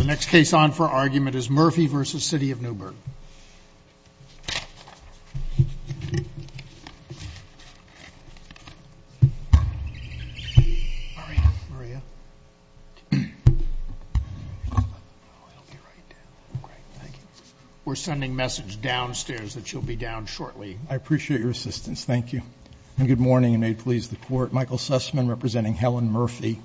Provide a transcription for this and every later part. The next case on for argument is Murphy v. City of Newburgh. We're sending message downstairs that you'll be down shortly. I appreciate your assistance. Thank you. Good morning and may it please the Court. Michael Sussman representing Helen Murphy.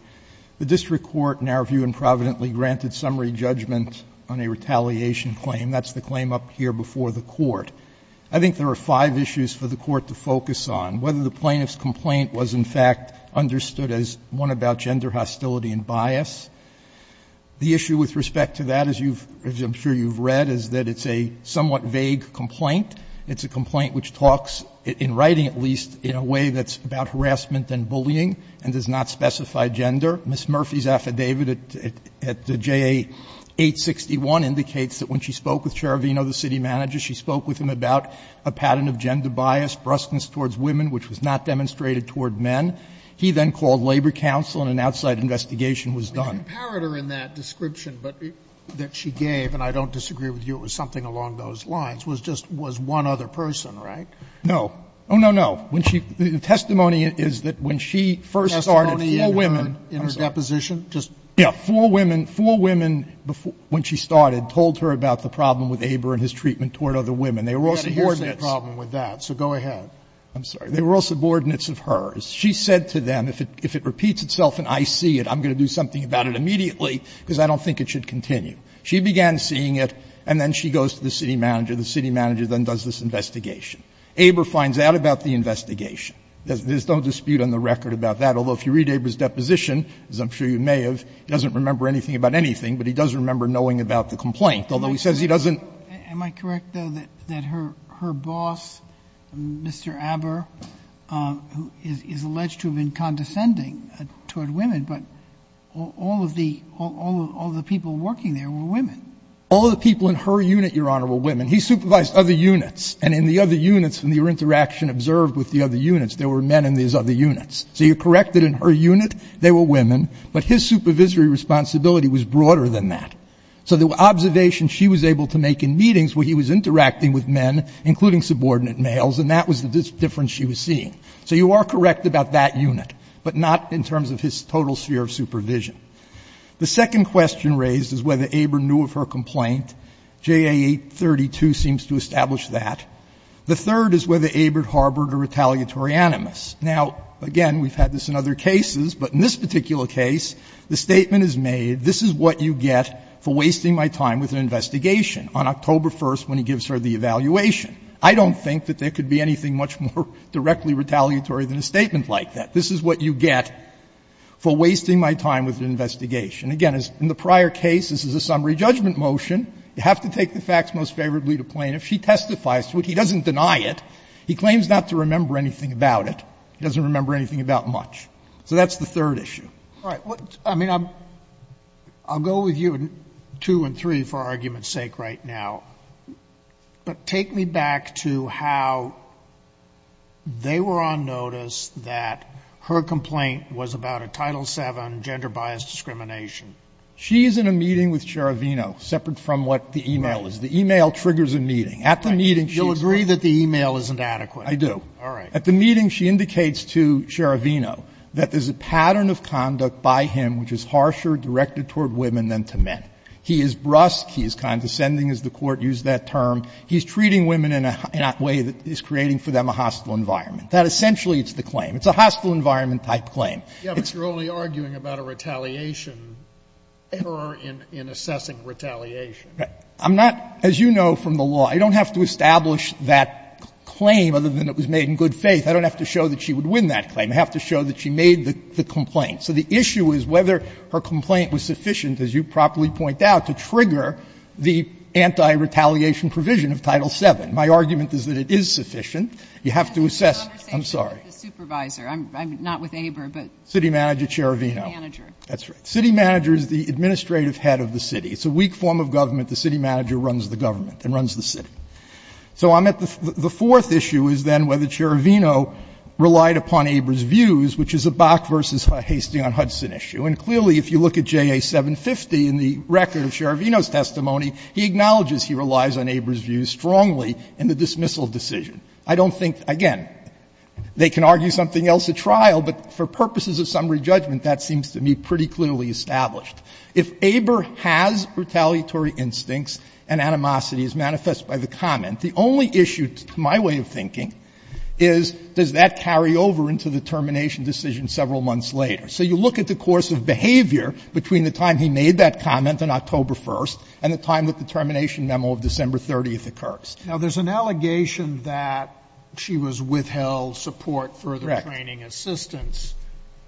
The district court in our view improvidently granted summary judgment on a retaliation claim. That's the claim up here before the Court. I think there are five issues for the Court to focus on, whether the plaintiff's complaint was in fact understood as one about gender hostility and bias. The issue with respect to that, as I'm sure you've read, is that it's a somewhat vague complaint. It's a complaint which talks, in writing at least, in a way that's about harassment and bullying and does not specify gender. Ms. Murphy's affidavit at the JA 861 indicates that when she spoke with Cherevino, the city manager, she spoke with him about a pattern of gender bias, brusqueness towards women, which was not demonstrated toward men. He then called labor counsel and an outside investigation was done. Sotomayor in that description that she gave, and I don't disagree with you, it was something along those lines, was just one other person, right? No. Oh, no, no. The testimony is that when she first started, four women. I'm sorry. Four women, four women, when she started, told her about the problem with Aber and his treatment toward other women. They were all subordinates. They had a hearsay problem with that, so go ahead. I'm sorry. They were all subordinates of hers. She said to them, if it repeats itself and I see it, I'm going to do something about it immediately because I don't think it should continue. She began seeing it, and then she goes to the city manager. The city manager then does this investigation. Aber finds out about the investigation. There's no dispute on the record about that, although if you read Aber's deposition, as I'm sure you may have, he doesn't remember anything about anything, but he does remember knowing about the complaint, although he says he doesn't. Am I correct, though, that her boss, Mr. Aber, who is alleged to have been condescending toward women, but all of the people working there were women? He supervised other units, and in the other units, in the interaction observed with the other units, there were men in these other units. So you're correct that in her unit, there were women, but his supervisory responsibility was broader than that. So the observation she was able to make in meetings where he was interacting with men, including subordinate males, and that was the difference she was seeing. So you are correct about that unit, but not in terms of his total sphere of supervision. The second question raised is whether Aber knew of her complaint. JA 832 seems to establish that. The third is whether Aber harbored a retaliatory animus. Now, again, we've had this in other cases, but in this particular case, the statement is made, this is what you get for wasting my time with an investigation, on October 1st when he gives her the evaluation. I don't think that there could be anything much more directly retaliatory than a statement like that. This is what you get for wasting my time with an investigation. Again, in the prior case, this is a summary judgment motion. You have to take the facts most favorably to plaintiff. She testifies to it. He doesn't deny it. He claims not to remember anything about it. He doesn't remember anything about much. So that's the third issue. Sotomayor, I mean, I'll go with you in two and three for argument's sake right now. But take me back to how they were on notice that her complaint was about a Title VII gender-biased discrimination. She's in a meeting with Scheravino, separate from what the e-mail is. The e-mail triggers a meeting. At the meeting, she's not. You'll agree that the e-mail isn't adequate. I do. All right. At the meeting, she indicates to Scheravino that there's a pattern of conduct by him which is harsher directed toward women than to men. He is brusque. He is condescending, as the Court used that term. He's treating women in a way that is creating for them a hostile environment. That essentially is the claim. It's a hostile environment-type claim. It's a hostile environment-type claim. Sotomayor, but you're only arguing about a retaliation or in assessing retaliation. I'm not, as you know from the law, I don't have to establish that claim other than it was made in good faith. I don't have to show that she would win that claim. I have to show that she made the complaint. So the issue is whether her complaint was sufficient, as you properly point out, to trigger the anti-retaliation provision of Title VII. My argument is that it is sufficient. You have to assess. I'm sorry. I'm not with ABER, but- City manager, Scheravino. That's right. City manager is the administrative head of the city. It's a weak form of government. The city manager runs the government and runs the city. So I'm at the fourth issue is then whether Scheravino relied upon ABER's views, which is a Bach v. Hastings v. Hudson issue. And clearly, if you look at JA 750 in the record of Scheravino's testimony, he acknowledges he relies on ABER's views strongly in the dismissal decision. I don't think, again, they can argue something else at trial, but for purposes of summary judgment, that seems to me pretty clearly established. If ABER has retaliatory instincts and animosity as manifested by the comment, the only issue, to my way of thinking, is does that carry over into the termination decision several months later? So you look at the course of behavior between the time he made that comment on October 1st and the time that the termination memo of December 30th occurs. Now, there's an allegation that she was withheld support for the training assistants.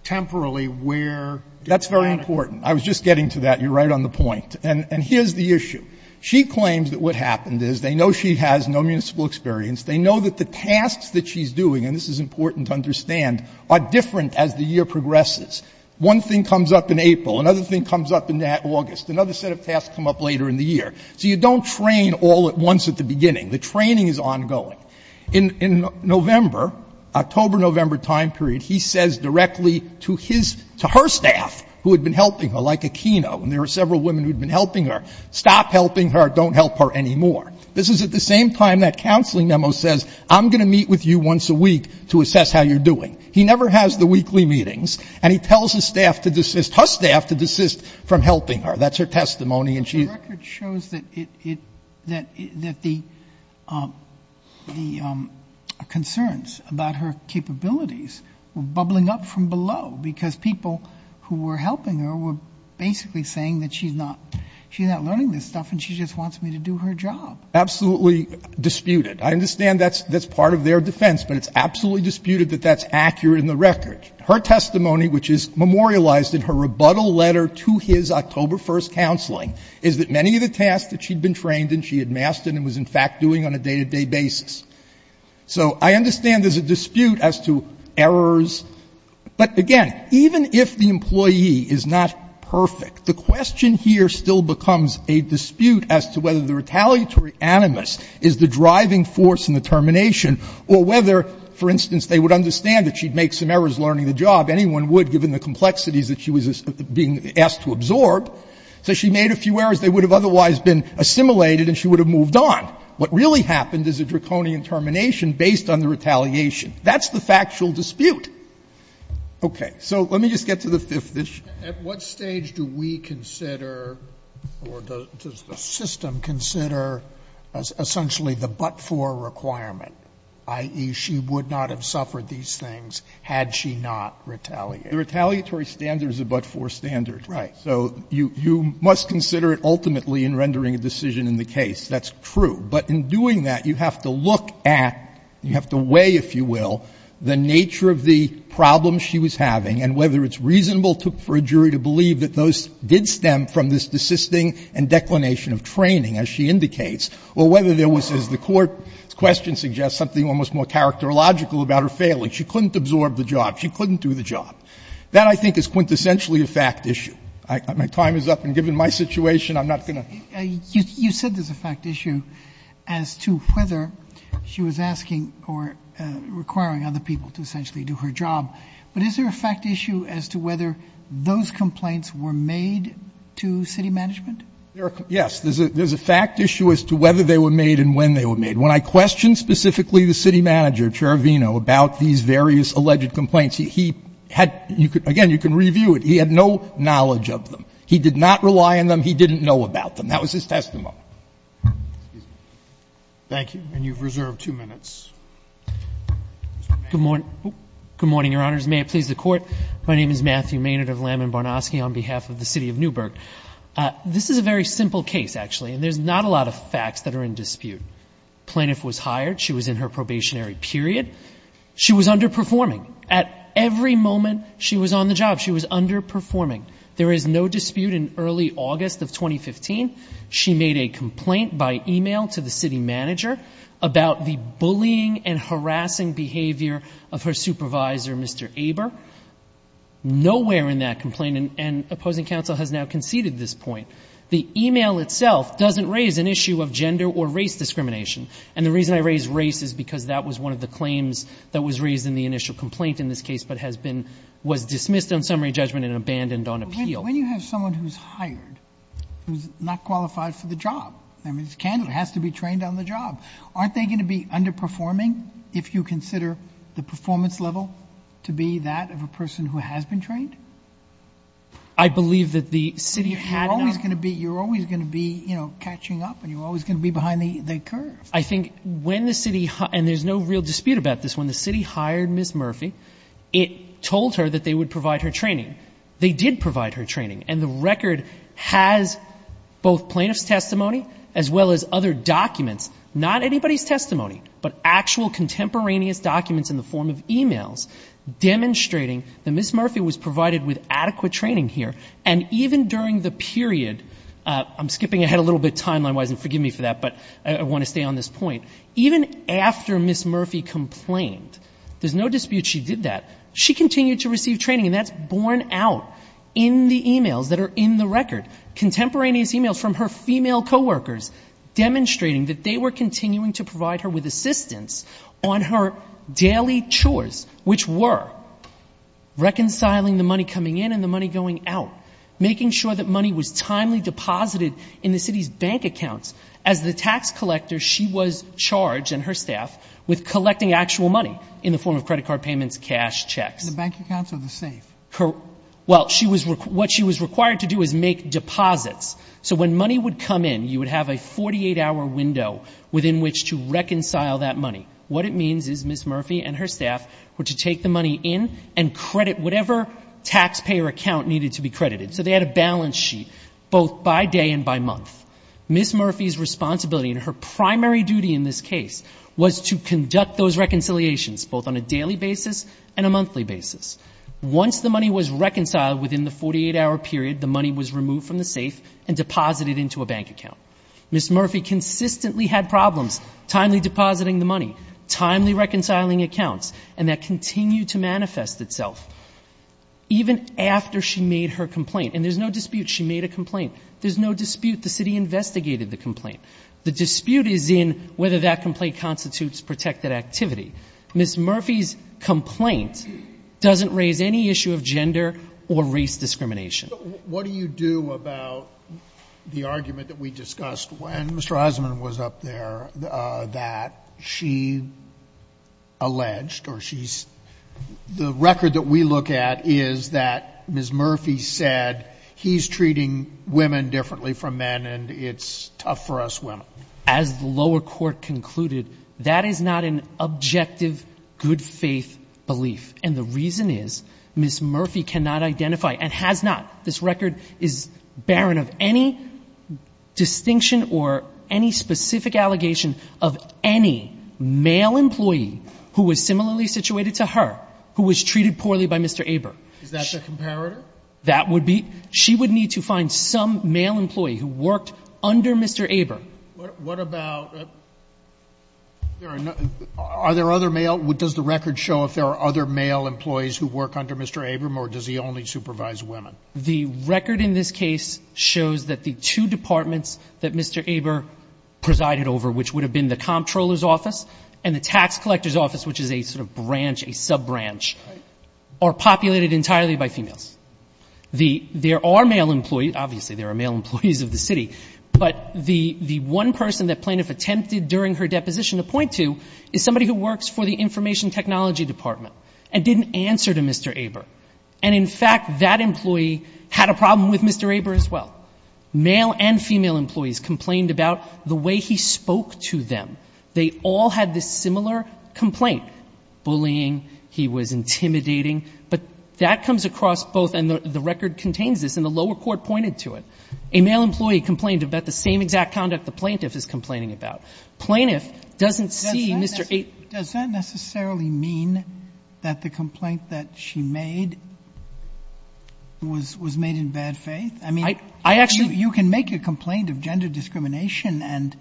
Temporally, where did that occur? That's very important. I was just getting to that. You're right on the point. And here's the issue. She claims that what happened is they know she has no municipal experience. They know that the tasks that she's doing, and this is important to understand, are different as the year progresses. One thing comes up in April. Another thing comes up in August. Another set of tasks come up later in the year. So you don't train all at once at the beginning. The training is ongoing. In November, October-November time period, he says directly to his — to her staff who had been helping her, like Aquino, and there were several women who had been helping her, stop helping her, don't help her anymore. This is at the same time that counseling memo says, I'm going to meet with you once a week to assess how you're doing. He never has the weekly meetings, and he tells his staff to desist — his staff to desist from helping her. That's her testimony. And she — But the record shows that it — that the concerns about her capabilities were bubbling up from below, because people who were helping her were basically saying that she's not — she's not learning this stuff, and she just wants me to do her job. Absolutely disputed. I understand that's — that's part of their defense, but it's absolutely disputed that that's accurate in the record. Her testimony, which is memorialized in her rebuttal letter to his October 1st counseling, is that many of the tasks that she'd been trained and she had mastered and was, in fact, doing on a day-to-day basis. So I understand there's a dispute as to errors, but again, even if the employee is not perfect, the question here still becomes a dispute as to whether the retaliatory animus is the driving force in the termination or whether, for instance, they would understand that she'd make some errors learning the job. Anyone would, given the complexities that she was being asked to absorb. So she made a few errors they would have otherwise been assimilated, and she would have moved on. What really happened is a draconian termination based on the retaliation. That's the factual dispute. Okay. So let me just get to the fifth issue. At what stage do we consider or does the system consider essentially the but-for requirement, i.e., she would not have suffered these things had she not retaliated? The retaliatory standard is a but-for standard. Right. So you must consider it ultimately in rendering a decision in the case. That's true. But in doing that, you have to look at, you have to weigh, if you will, the nature of the problems she was having and whether it's reasonable for a jury to believe that those did stem from this desisting and declination of training, as she indicates, or whether there was, as the Court's question suggests, something almost more character logical about her failing. She couldn't absorb the job. She couldn't do the job. That, I think, is quintessentially a fact issue. My time is up, and given my situation, I'm not going to ---- You said there's a fact issue as to whether she was asking or requiring other people to essentially do her job. But is there a fact issue as to whether those complaints were made to city management? Yes. There's a fact issue as to whether they were made and when they were made. When I questioned specifically the city manager, Chair Vino, about these various alleged complaints, he had, again, you can review it, he had no knowledge of them. He did not rely on them. He didn't know about them. And that was his testimony. Thank you. And you've reserved two minutes. Good morning. Good morning, Your Honors. May it please the Court. My name is Matthew Maynard of Lamb and Barnosky on behalf of the City of Newburgh. This is a very simple case, actually, and there's not a lot of facts that are in dispute. Plaintiff was hired. She was in her probationary period. She was underperforming. At every moment she was on the job, she was underperforming. There is no dispute in early August of 2015, she made a complaint by email to the city manager about the bullying and harassing behavior of her supervisor, Mr. Aber. Nowhere in that complaint, and opposing counsel has now conceded this point, the email itself doesn't raise an issue of gender or race discrimination. And the reason I raise race is because that was one of the claims that was raised in the initial complaint in this case, but has been, was dismissed on summary judgment and appeal. When you have someone who's hired, who's not qualified for the job, I mean, it's candidate, has to be trained on the job, aren't they going to be underperforming if you consider the performance level to be that of a person who has been trained? I believe that the city had enough— You're always going to be, you're always going to be, you know, catching up and you're always going to be behind the curve. I think when the city, and there's no real dispute about this, when the city hired Ms. Murphy, it told her that they would provide her training. They did provide her training, and the record has both plaintiff's testimony, as well as other documents, not anybody's testimony, but actual contemporaneous documents in the form of emails demonstrating that Ms. Murphy was provided with adequate training here, and even during the period, I'm skipping ahead a little bit timeline wise, and forgive me for that, but I want to stay on this point, even after Ms. Murphy complained, there's no dispute she did that, she continued to receive training, and that's borne out in the emails that are in the record, contemporaneous emails from her female co-workers demonstrating that they were continuing to provide her with assistance on her daily chores, which were reconciling the money coming in and the money going out, making sure that money was timely deposited in the city's bank accounts. As the tax collector, she was charged, and her staff, with collecting actual money in the form of credit card payments, cash, checks. In the bank accounts, or the safe? Well, what she was required to do was make deposits. So when money would come in, you would have a 48-hour window within which to reconcile that money. What it means is Ms. Murphy and her staff were to take the money in and credit whatever taxpayer account needed to be credited. So they had a balance sheet, both by day and by month. Ms. Murphy's responsibility, and her primary duty in this case, was to conduct those reconciliations, both on a daily basis and a monthly basis. Once the money was reconciled within the 48-hour period, the money was removed from the safe and deposited into a bank account. Ms. Murphy consistently had problems timely depositing the money, timely reconciling accounts, and that continued to manifest itself. Even after she made her complaint, and there's no dispute she made a complaint, there's no dispute the city investigated the complaint. The dispute is in whether that complaint constitutes protected activity. Ms. Murphy's complaint doesn't raise any issue of gender or race discrimination. What do you do about the argument that we discussed when Mr. Eisenman was up there that she alleged, or she's, the record that we look at is that Ms. Murphy said he's treating women differently from men and it's tough for us women. As the lower court concluded, that is not an objective, good faith belief. And the reason is Ms. Murphy cannot identify, and has not, this record is barren of any distinction or any specific allegation of any male employee who was similarly situated to her, who was treated poorly by Mr. Aber. Is that the comparator? That would be, she would need to find some male employee who worked under Mr. Aber. What about, are there other male, does the record show if there are other male employees who work under Mr. Aber or does he only supervise women? The record in this case shows that the two departments that Mr. Aber presided over, which would have been the comptroller's office and the tax collector's office, which is a sort of branch, a sub-branch, are populated entirely by females. The, there are male employees, obviously there are male employees of the city, but the one person that plaintiff attempted during her deposition to point to is somebody who works for the information technology department and didn't answer to Mr. Aber. And in fact, that employee had a problem with Mr. Aber as well. Male and female employees complained about the way he spoke to them. They all had this similar complaint, bullying, he was intimidating, but that comes across both, and the record contains this, and the lower court pointed to it. A male employee complained about the same exact conduct the plaintiff is complaining about. Plaintiff doesn't see Mr. Aber. Sotomayor, does that necessarily mean that the complaint that she made was, was made in bad faith? I mean, you can make a complaint of gender discrimination and,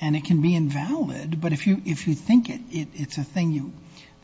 and it can be invalid. But if you, if you think it, it's a thing you,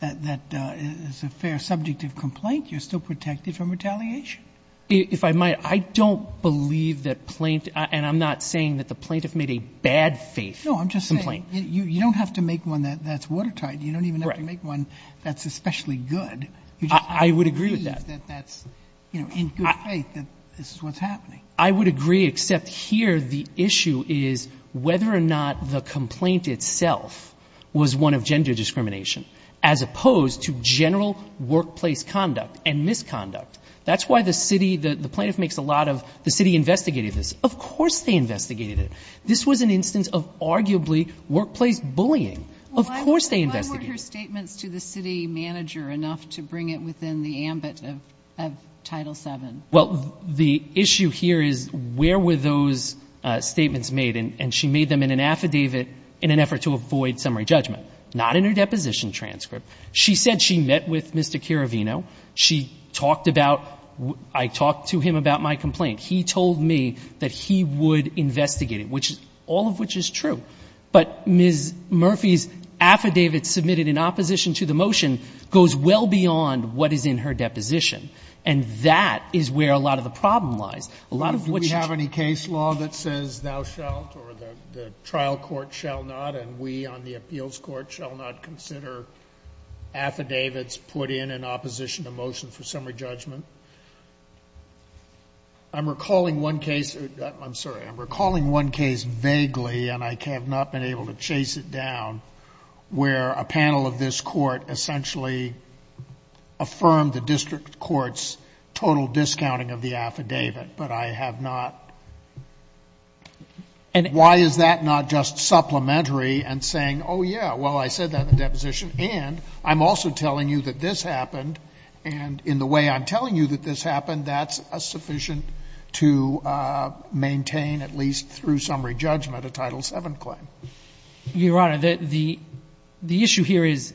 that, that is a fair subject of complaint, you're still protected from retaliation. If I might, I don't believe that plaintiff, and I'm not saying that the plaintiff made a bad faith complaint. No, I'm just saying, you, you don't have to make one that, that's watertight. You don't even have to make one that's especially good. I would agree with that. You just have to believe that that's, you know, in good faith that this is what's happening. I would agree, except here the issue is whether or not the complaint itself was one of gender discrimination, as opposed to general workplace conduct and misconduct. That's why the city, the plaintiff makes a lot of, the city investigated this. Of course they investigated it. This was an instance of arguably workplace bullying. Of course they investigated it. Why were her statements to the city manager enough to bring it within the ambit of, of Title VII? Well, the issue here is where were those statements made, and she made them in an affidavit in an effort to avoid summary judgment. Not in her deposition transcript. She said she met with Mr. Chirivino. She talked about, I talked to him about my complaint. He told me that he would investigate it, which, all of which is true. But Ms. Murphy's affidavit submitted in opposition to the motion goes well beyond what is in her deposition. And that is where a lot of the problem lies. A lot of what she. The trial court shall not and we on the appeals court shall not consider affidavits put in in opposition to motion for summary judgment. I'm recalling one case, I'm sorry, I'm recalling one case vaguely and I have not been able to chase it down where a panel of this court essentially affirmed the district court's total discounting of the affidavit. But I have not. Why is that not just supplementary and saying, oh, yeah, well, I said that in the deposition and I'm also telling you that this happened and in the way I'm telling you that this happened, that's sufficient to maintain at least through summary judgment a Title VII claim. Your Honor, the issue here is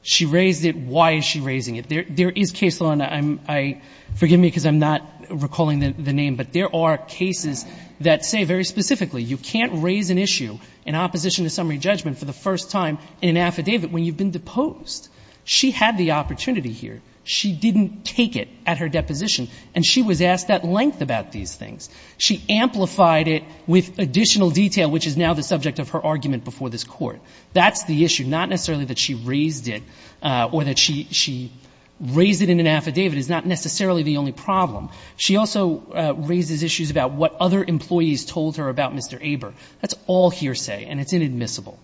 she raised it, why is she raising it? There is case law and I'm, forgive me because I'm not recalling the name, but there are cases that say very specifically you can't raise an issue in opposition to summary judgment for the first time in an affidavit when you've been deposed. She had the opportunity here. She didn't take it at her deposition and she was asked at length about these things. She amplified it with additional detail which is now the subject of her argument before this court. That's the issue, not necessarily that she raised it or that she raised it in an affidavit is not necessarily the only problem. She also raises issues about what other employees told her about Mr. Aber. That's all hearsay and it's inadmissible.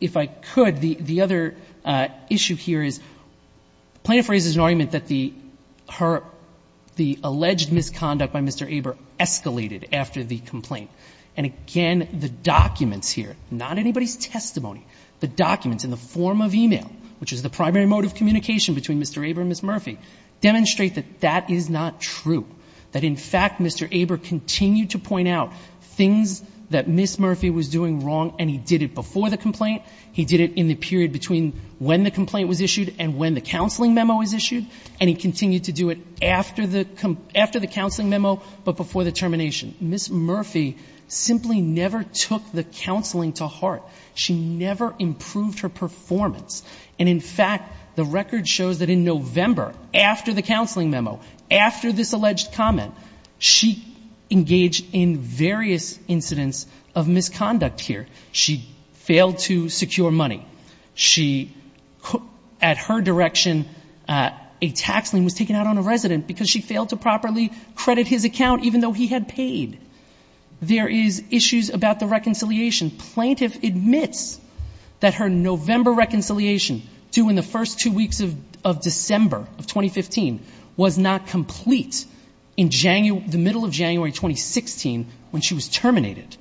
If I could, the other issue here is plaintiff raises an argument that the alleged misconduct by Mr. Aber escalated after the complaint. And again, the documents here, not anybody's testimony, the documents in the form of e-mail, which is the primary mode of communication between Mr. Aber and Ms. Murphy, demonstrate that that is not true. That in fact, Mr. Aber continued to point out things that Ms. Murphy was doing wrong and he did it before the complaint, he did it in the period between when the complaint was issued and when the counseling memo was issued, and he continued to do it after the counseling memo but before the termination. Ms. Murphy simply never took the counseling to heart. She never improved her performance. And in fact, the record shows that in November, after the counseling memo, after this alleged comment, she engaged in various incidents of misconduct here. She failed to secure money. She, at her direction, a tax lien was taken out on a resident because she failed to plead. There is issues about the reconciliation. Plaintiff admits that her November reconciliation to in the first two weeks of December of 2015 was not complete in the middle of January 2016 when she was terminated.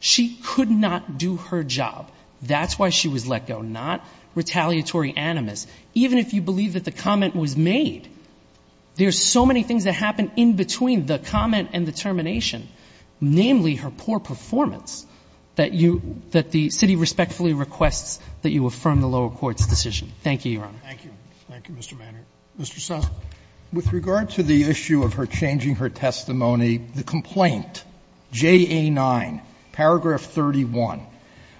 She could not do her job. That's why she was let go, not retaliatory animus. Even if you believe that the comment was made, there's so many things that happen in between the comment and the termination, namely her poor performance, that you — that the city respectfully requests that you affirm the lower court's decision. Thank you, Your Honor. Thank you. Thank you, Mr. Manning. Mr. Sotomayor. With regard to the issue of her changing her testimony, the complaint, JA9, paragraph 31.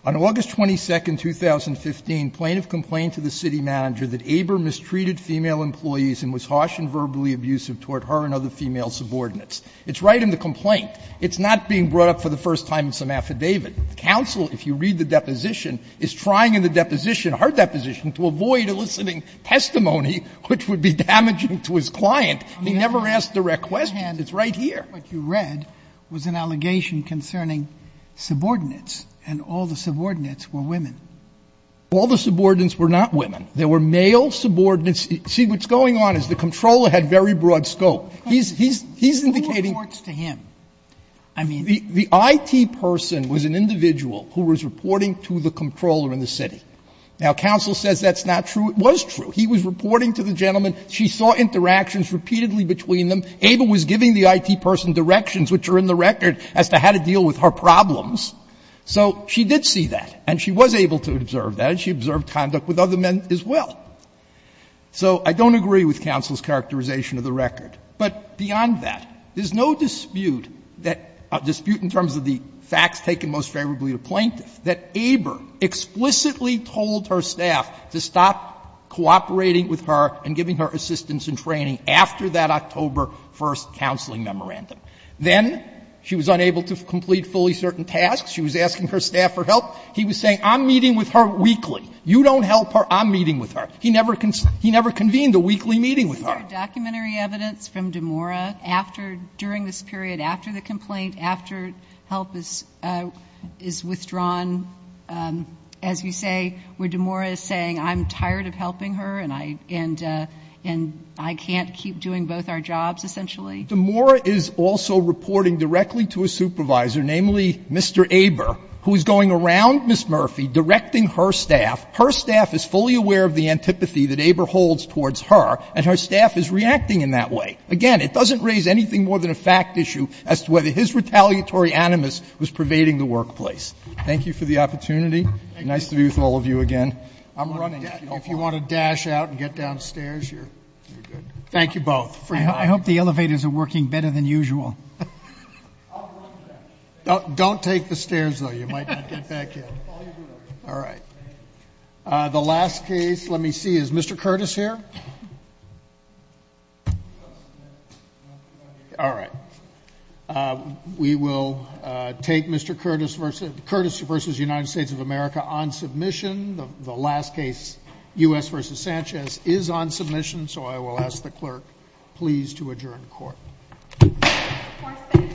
On August 22, 2015, plaintiff complained to the city manager that Aber mistreated female employees and was harsh and verbally abusive toward her and other female subordinates. It's right in the complaint. It's not being brought up for the first time in some affidavit. The counsel, if you read the deposition, is trying in the deposition, her deposition, to avoid eliciting testimony which would be damaging to his client. He never asked direct questions. It's right here. What you read was an allegation concerning subordinates, and all the subordinates were women. All the subordinates were not women. There were male subordinates. See, what's going on is the Comptroller had very broad scope. He's indicating the IT person was an individual who was reporting to the Comptroller in the city. Now, counsel says that's not true. It was true. He was reporting to the gentleman. She saw interactions repeatedly between them. Aber was giving the IT person directions, which are in the record, as to how to deal with her problems. So she did see that, and she was able to observe that, and she observed conduct with other men as well. So I don't agree with counsel's characterization of the record. But beyond that, there's no dispute that — dispute in terms of the facts taken most favorably to plaintiffs that Aber explicitly told her staff to stop cooperating with her and giving her assistance and training after that October 1st counseling memorandum. Then she was unable to complete fully certain tasks. She was asking her staff for help. He was saying, I'm meeting with her weekly. You don't help her. I'm meeting with her. He never convened a weekly meeting with her. The documentary evidence from DeMora after — during this period, after the complaint, after help is withdrawn, as you say, where DeMora is saying, I'm tired of helping her, and I — and I can't keep doing both our jobs, essentially. DeMora is also reporting directly to a supervisor, namely Mr. Aber, who is going around Ms. Murphy directing her staff. Her staff is fully aware of the antipathy that Aber holds towards her, and her staff is reacting in that way. Again, it doesn't raise anything more than a fact issue as to whether his retaliatory animus was pervading the workplace. Thank you for the opportunity. Nice to be with all of you again. I'm running. If you want to dash out and get downstairs, you're good. Thank you both. I hope the elevators are working better than usual. Don't take the stairs, though. You might not get back in. All right. The last case, let me see, is Mr. Curtis here? All right. We will take Mr. Curtis versus — Curtis versus United States of America on submission. The last case, U.S. versus Sanchez, is on submission, so I will ask the clerk, please, to adjourn court. Thank you.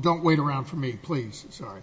Don't wait around for me, please. Sorry. Thank you.